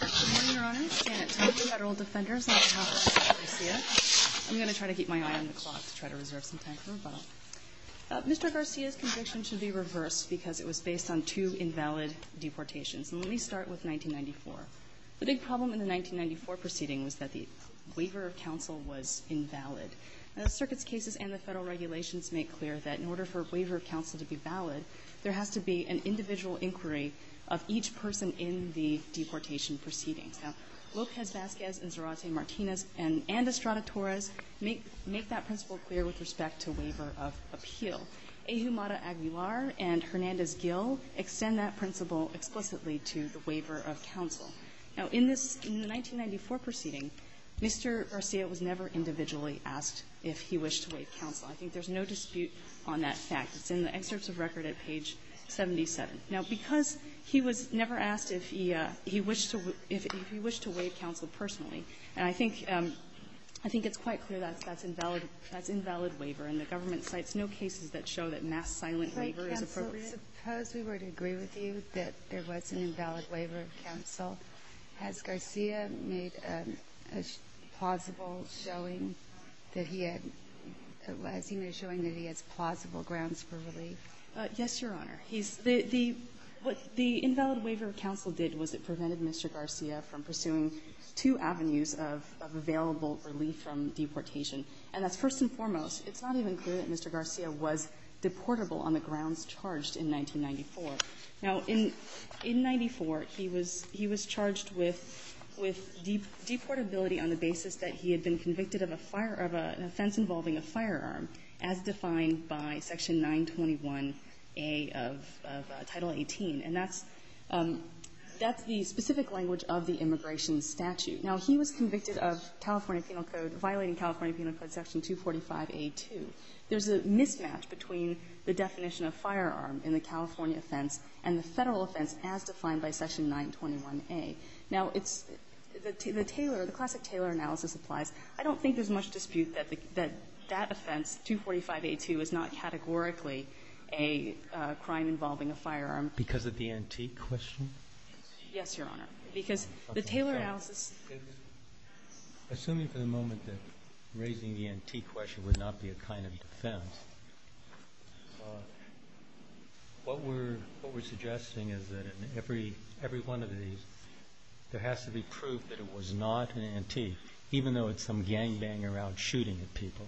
on behalf of Mr. Garcia. I'm going to try to keep my eye on the clock to try to reserve some time for him, but Mr. Garcia's conviction should be reversed because it was based on two invalid deportations. And let me start with 1994. The big problem in the 1994 proceeding was that the waiver of counsel was invalid. Now, the circuit's cases and the Federal regulations make clear that in order for a waiver of counsel to be valid, there has to be an individual inquiry of each person in the deportation proceedings. Now, Lopez-Vasquez and Zarate and Martinez and Estrada-Torres make that principle clear with respect to waiver of appeal. Ahumada-Aguilar and Hernandez-Gill extend that principle explicitly to the waiver of counsel. Now, in this 1994 proceeding, Mr. Garcia was never individually asked if he wished to waive counsel. I think there's no dispute on that fact. It's in the excerpts of record at page 77. Now, because he was never asked if he wished to waive counsel personally, and I think it's quite clear that's invalid waiver, and the government cites no cases that show that mass silent waiver is appropriate. Suppose we were to agree with you that there was an invalid waiver of counsel. Has Garcia made a plausible showing that he had – has he made a showing that he has plausible grounds for relief? Yes, Your Honor. He's – the – what the invalid waiver of counsel did was it prevented Mr. Garcia from pursuing two avenues of available relief from deportation. And that's first and foremost, it's not even clear that Mr. Garcia was deportable on the grounds charged in 1994. Now, in – in 94, he was – he was charged with – with deportability on the basis that he had been convicted of a fire – of an offense involving a firearm, as defined by Section 921A of Title 18. And that's – that's the specific language of the immigration statute. Now, he was convicted of California Penal Code – violating California Penal Code Section 245A2. There's a mismatch between the definition of firearm in the California offense and the Federal offense as defined by Section 921A. Now, it's – the Taylor – the that offense, 245A2, is not categorically a crime involving a firearm. Because of the antique question? Yes, Your Honor. Because the Taylor analysis – Assuming for the moment that raising the antique question would not be a kind of defense, what we're – what we're suggesting is that in every – every one of these, there has to be proof that it was not an antique, even though it's some gangbanger around shooting at people.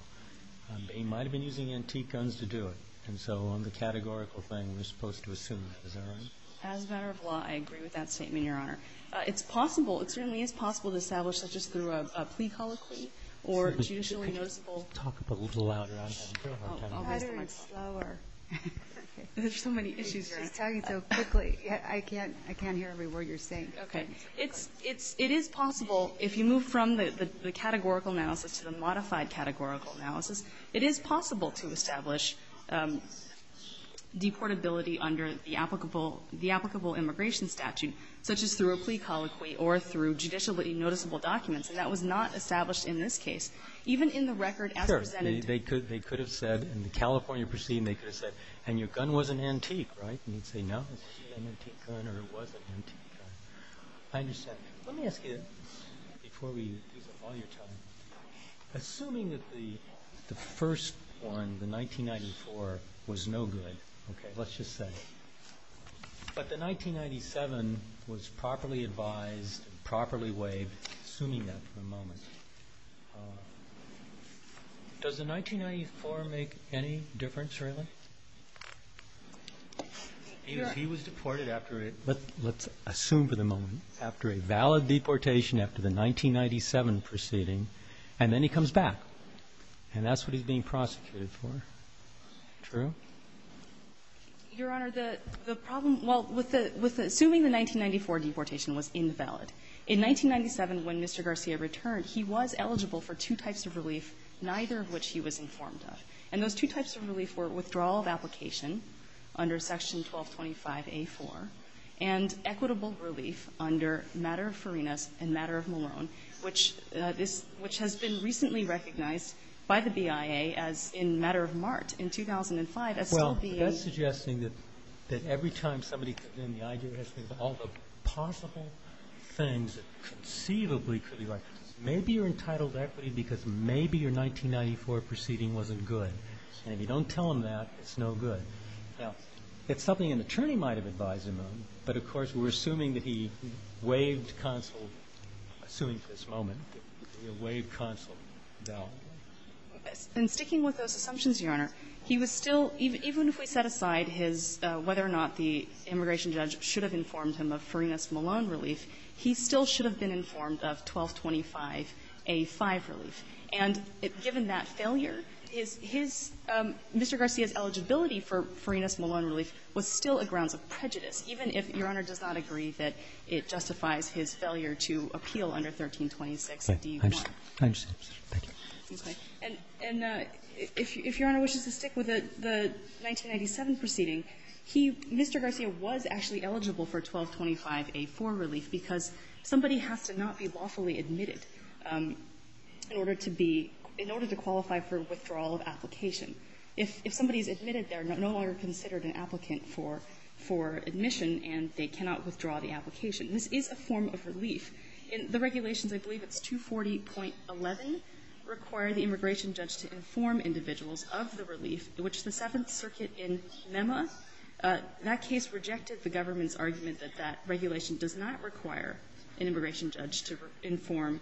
He might have been using antique guns to do it. And so on the categorical thing, we're supposed to assume that. Is that right? As a matter of law, I agree with that statement, Your Honor. It's possible. It certainly is possible to establish that just through a plea colloquy or judicially noticeable – Could you talk a little louder? I'm having a real hard time hearing you. I'll try to be slower. There's so many issues, Your Honor. She's talking so quickly. I can't – I can't hear every word you're saying. Okay. It's – it's – it is possible, if you move from the – the categorical analysis to the modified categorical analysis, it is possible to establish deportability under the applicable – the applicable immigration statute, such as through a plea colloquy or through judicially noticeable documents. And that was not established in this case. Even in the record as presented – Sure. They could – they could have said, in the California proceeding, they could have said, and your gun wasn't antique, right? And you'd say, no, this is an antique gun or it was an antique gun. I understand. Let me ask you, before we use up all your time, assuming that the – the first one, the 1994, was no good, okay, let's just say, but the 1997 was properly advised, properly waived, assuming that for the moment, does the 1994 make any difference, really? He was – he was deported after a – Let's – let's assume for the moment, after a valid deportation, after the 1997 proceeding, and then he comes back, and that's what he's being prosecuted for. True? Your Honor, the – the problem – well, with the – with assuming the 1994 deportation was invalid, in 1997, when Mr. Garcia returned, he was eligible for two types of relief, neither of which he was informed of. And those two types of relief were withdrawal of application under Section 1225a4 and equitable relief under matter of Ferenas and matter of Malone, which this – which has been recently recognized by the BIA as in matter of Mart in 2005 as still being – Well, that's suggesting that – that every time somebody comes in, the idea has to be all the possible things that conceivably could be like this. Maybe you're entitled to equity because maybe your 1994 proceeding wasn't good, and if you don't tell him that, it's no good. Now, it's something an attorney might have advised him of, but of course, we're assuming that he waived counsel, assuming for this moment, waived counsel. And sticking with those assumptions, Your Honor, he was still – even if we set aside his – whether or not the immigration judge should have informed him of Ferenas Malone relief, he still should have been informed of 1225a5 relief. And given that failure, his – Mr. Garcia's eligibility for Ferenas Malone relief was still a grounds of prejudice, even if Your Honor does not agree that it justifies his failure to appeal under 1326d1. I understand. I understand, Your Honor. Thank you. Okay. And if Your Honor wishes to stick with the 1997 proceeding, he – Mr. Garcia was actually eligible for 1225a4 relief because somebody has to not be lawfully admitted in order to be – in order to qualify for withdrawal of application. If somebody is admitted, they're no longer considered an applicant for – for admission, and they cannot withdraw the application. This is a form of relief. In the regulations, I believe it's 240.11 require the immigration judge to inform individuals of the relief, which the Seventh Circuit in MEMA, that case rejected the government's argument that that regulation does not require an immigration judge to inform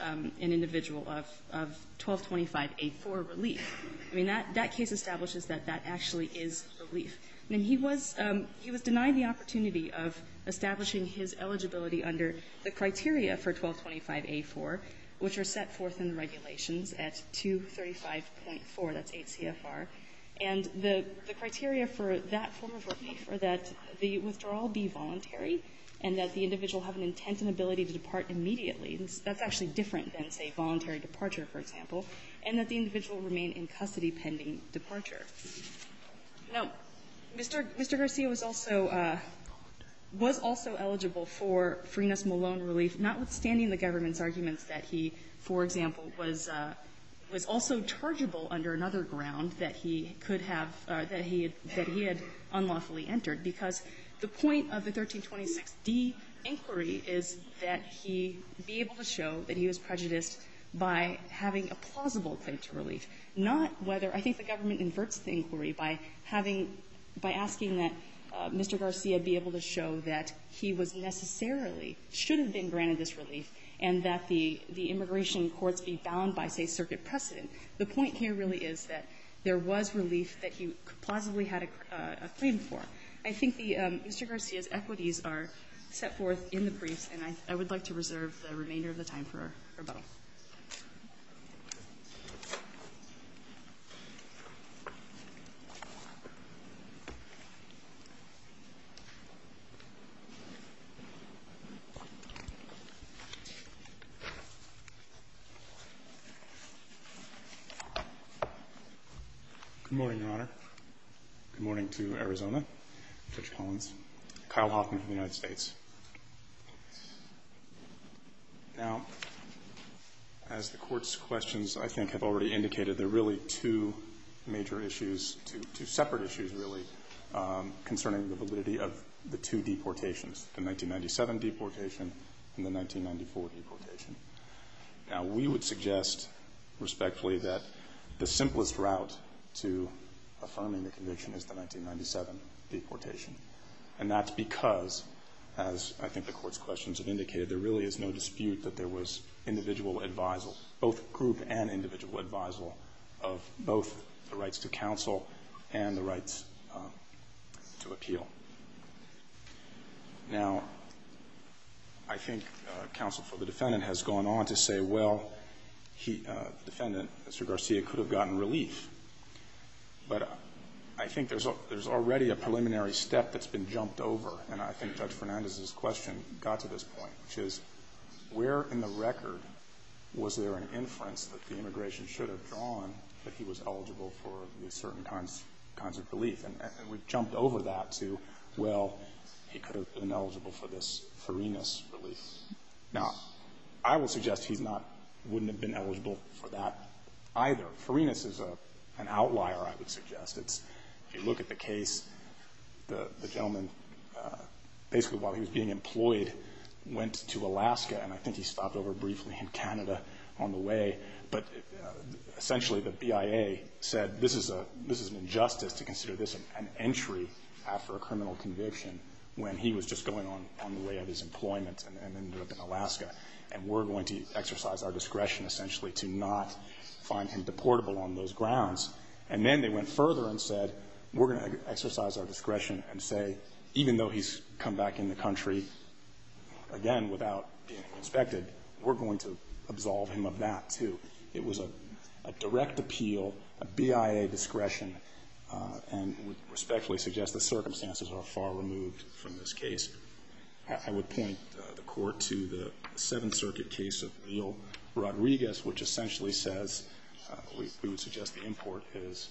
an individual of – of 1225a4 relief. I mean, that – that case establishes that that actually is relief. And he was – he was denied the opportunity of establishing his eligibility under the criteria for 1225a4, which are set forth in the regulations at 235.4, that's 8 CFR. And the – the criteria for that form of relief are that the withdrawal be voluntary and that the individual have an intent and ability to depart immediately. That's actually different than, say, voluntary departure, for example. And that the individual remain in custody pending departure. Now, Mr. – Mr. Garcia was also – was also eligible for Freenos Malone relief, notwithstanding the government's arguments that he, for example, was – was also rechargeable under another ground that he could have – that he had – that he had unlawfully entered, because the point of the 1326d inquiry is that he be able to show that he was prejudiced by having a plausible claim to relief, not whether – I think the government inverts the inquiry by having – by asking that Mr. Garcia be able to show that he was necessarily – should have been granted this relief and that the immigration courts be bound by, say, circuit precedent. The point here really is that there was relief that he plausibly had a claim for. I think the – Mr. Garcia's equities are set forth in the briefs, and I would like to reserve the remainder of the time for rebuttal. MR. GARCIA Good morning, Your Honor. Good morning to Arizona, Judge Collins, Kyle Hoffman of the United States. Now, as the Court's questions, I think, have already indicated, there are really two major issues – two separate issues, really, concerning the validity of the two deportations, the 1997 deportation and the 1994 deportation. Now, we would suggest respectfully that the simplest route to affirming the conviction is the 1997 deportation. And that's because, as I think the Court's questions have indicated, there really is no dispute that there was individual advisal, both group and individual advisal, of both the rights to counsel and the rights to appeal. Now, I think counsel for the defendant has gone on to say, well, he – the defendant, Mr. Garcia, could have gotten relief. But I think there's already a preliminary step that's been jumped over, and I think Judge Fernandez's question got to this point, which is, where in the record was there an inference that the immigration should have drawn that he was eligible for these certain kinds of relief? And we've jumped over that to, well, he could have been eligible for this Farinas relief. Now, I will suggest he's not – wouldn't have been eligible for that either. Farinas is an outlier, I would suggest. It's – if you look at the case, the gentleman basically, while he was being employed, went to Alaska, and I think he stopped over briefly in Canada on the way. But essentially, the BIA said this is a – this is an injustice to consider this an entry after a criminal conviction when he was just going on the way of his employment and ended up in Alaska, and we're going to exercise our discretion, essentially, to not find him deportable on those grounds. And then they went further and said, we're going to exercise our discretion and say, even though he's come back in the country, again, without being inspected, we're going to absolve him of that too. It was a direct appeal, a BIA discretion, and would respectfully suggest the circumstances are far removed from this case. I would point the Court to the Seventh Circuit case of E.L. Rodriguez, which essentially says – we would suggest the import is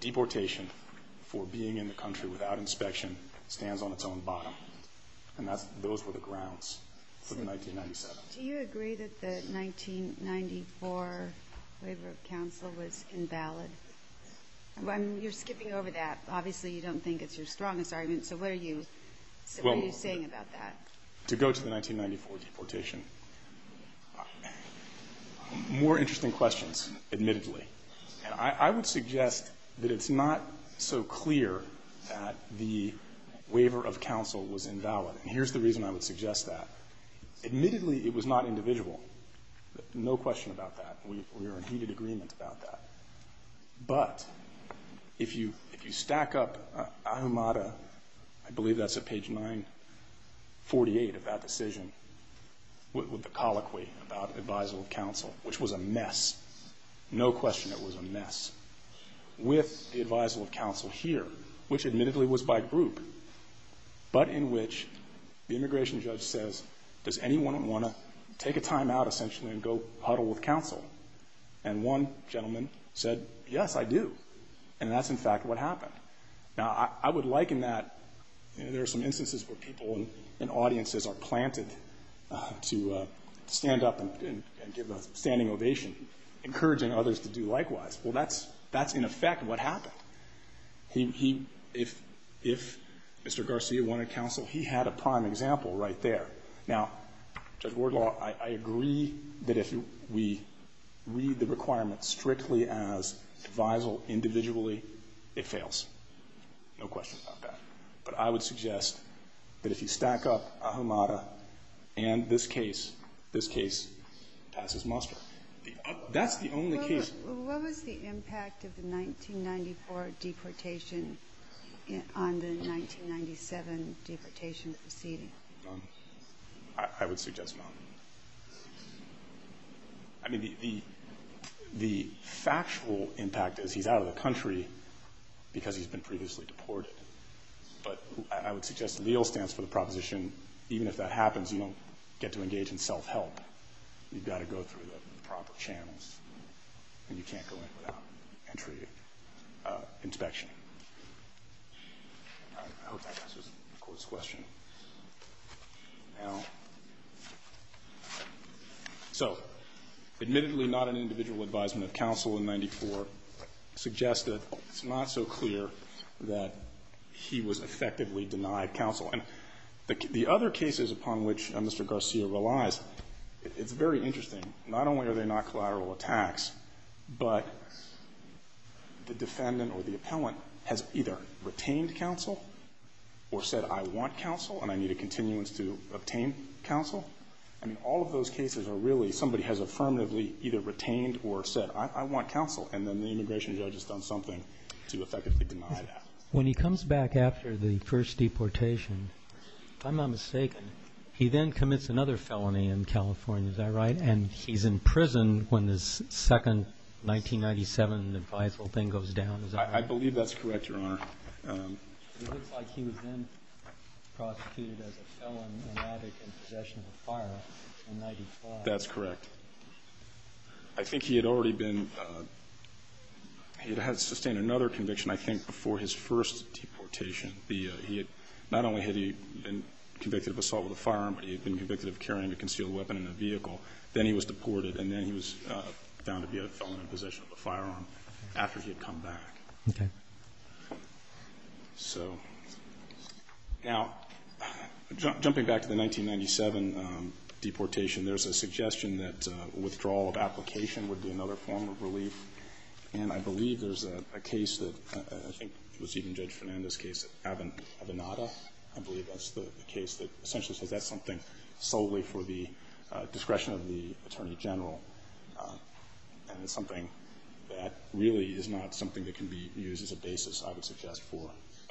deportation for being in the country without inspection stands on its own bottom. And that's – those were the grounds for the 1997. Do you agree that the 1994 waiver of counsel was invalid? I mean, you're skipping over that. Obviously, you don't think it's your strongest argument. So what are you saying about that? To go to the 1994 deportation, more interesting questions, admittedly. I would suggest that it's not so clear that the waiver of counsel was invalid. And here's the reason I would suggest that. Admittedly, it was not individual. No question about that. We are in heated agreement about that. But if you stack up Ahumada – I believe that's at page 948 of that decision with the colloquy about the advisal of counsel, which was a mess. No question it was a mess. With the advisal of counsel here, which admittedly was by group, but in which the immigration judge says, does anyone want to take a time out, essentially, and go huddle with counsel? And one gentleman said, yes, I do. And that's, in fact, what happened. Now, I would liken that – you know, there are some instances where people and audiences are planted to stand up and give a standing ovation, encouraging others to do likewise. Well, that's, in effect, what happened. If Mr. Garcia wanted counsel, he had a prime example right there. Now, Judge Wardlaw, I agree that if we read the requirement strictly as advisal individually, it fails. No question about that. But I would suggest that if you stack up Ahumada and this case, this case passes muster. That's the only case – What was the impact of the 1994 deportation on the 1997 deportation proceeding? None. I would suggest none. I mean, the factual impact is he's out of the country because he's been previously deported. But I would suggest the legal stance for the proposition, even if that happens, you don't get to engage in self-help. You've got to go through the proper channels, and you can't go in without entry inspection. I hope that answers the Court's question. So admittedly, not an individual advisement of counsel in 1994 suggests that it's not so clear that he was effectively denied counsel. And the other cases upon which Mr. Garcia relies, it's very interesting. I mean, not only are they not collateral attacks, but the defendant or the appellant has either retained counsel or said, I want counsel, and I need a continuance to obtain counsel. I mean, all of those cases are really somebody has affirmatively either retained or said, I want counsel, and then the immigration judge has done something to effectively deny that. When he comes back after the first deportation, if I'm not mistaken, he then commits another felony in California. Is that right? And he's in prison when this second 1997 advisable thing goes down, is that right? I believe that's correct, Your Honor. It looks like he was then prosecuted as a felon and addict in possession of a firearm in 1995. That's correct. I think he had already been, he had sustained another conviction, I think, before his first deportation. Not only had he been convicted of assault with a firearm, but he had been convicted of carrying a concealed weapon in a vehicle. Then he was deported, and then he was found to be a felon in possession of a firearm after he had come back. Okay. So, now, jumping back to the 1997 deportation, there's a suggestion that withdrawal of application would be another form of relief. And I believe there's a case that, I think it was even Judge Fernandez's case, Avenada. I believe that's the case that essentially says that's something solely for the discretion of the Attorney General. And it's something that really is not something that can be used as a basis, I would suggest, for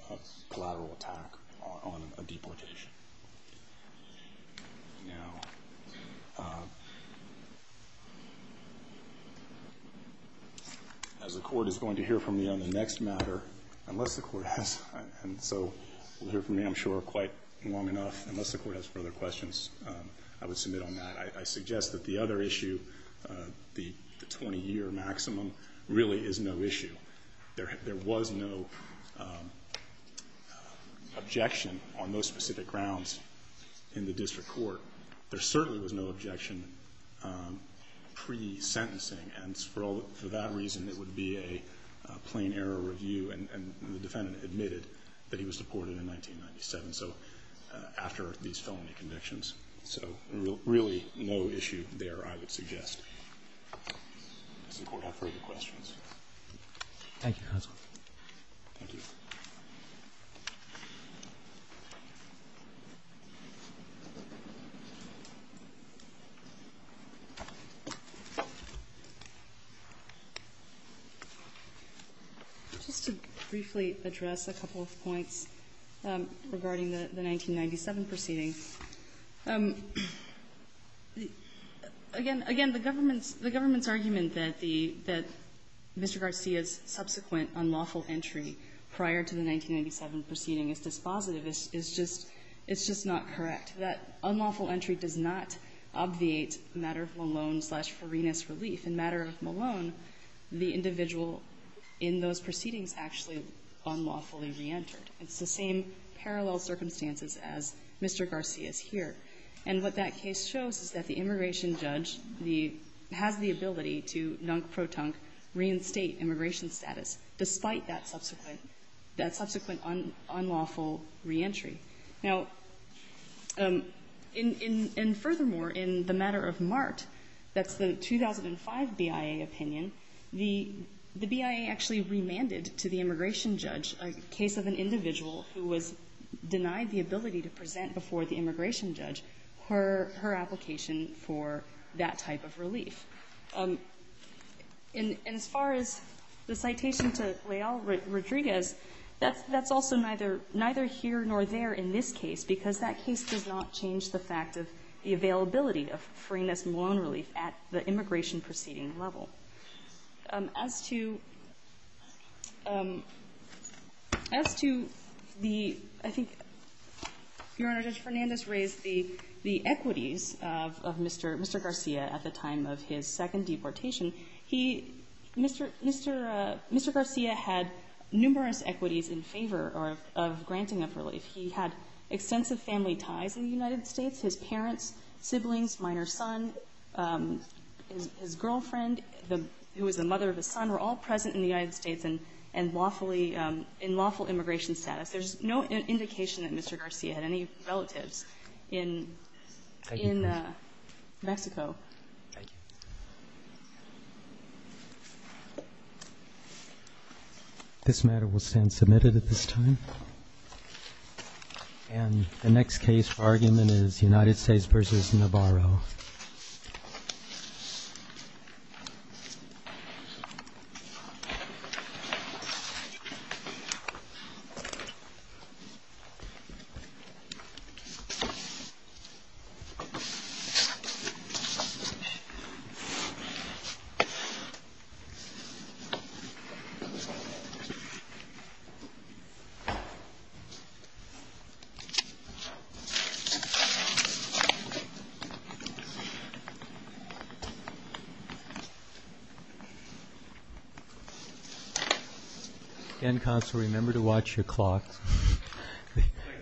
a collateral attack on a deportation. Now, as the Court is going to hear from me on the next matter, unless the Court has, and so we'll hear from me, I'm sure, quite long enough. Unless the Court has further questions, I would submit on that. I suggest that the other issue, the 20-year maximum, really is no issue. There was no objection on those specific grounds in the District Court. There certainly was no objection pre-sentencing. And for that reason, it would be a plain error review. And the defendant admitted that he was deported in 1997. So, after these felony convictions. So, really, no issue there, I would suggest. Does the Court have further questions? Thank you, Counsel. Thank you. Just to briefly address a couple of points regarding the 1997 proceedings. Again, the government's argument that Mr. Garcia's subsequent unlawful entry prior to the 1997 proceeding is dispositive is just not correct. That unlawful entry does not obviate a matter of Malone-slash-Ferenas relief. In matter of Malone, the individual in those proceedings actually unlawfully re-entered. It's the same parallel circumstances as Mr. Garcia's here. And what that case shows is that the immigration judge has the ability to non-protonque reinstate immigration status, despite that subsequent unlawful re-entry. Now, and furthermore, in the matter of Mart, that's the 2005 BIA opinion, the BIA actually remanded to the immigration judge a case of an individual who was denied the ability to present before the immigration judge her application for that type of relief. And as far as the citation to Leal-Rodriguez, that's also neither here nor there, in this case, because that case does not change the fact of the availability of Ferenas-Malone relief at the immigration proceeding level. As to the, I think, Your Honor, Judge Fernandez raised the equities of Mr. Garcia at the time of his second deportation. He, Mr. Garcia had numerous equities in favor of granting of relief. He had extensive family ties in the United States. His parents, siblings, minor son, his girlfriend, who was the mother of his son, were all present in the United States and lawfully, in lawful immigration status. There's no indication that Mr. Garcia had any relatives in Mexico. Thank you, Your Honor. Thank you. This matter will stand submitted at this time. And the next case for argument is United States v. Navarro. Again, counsel, remember to watch your clock,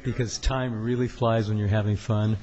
because time really flies when you're having fun.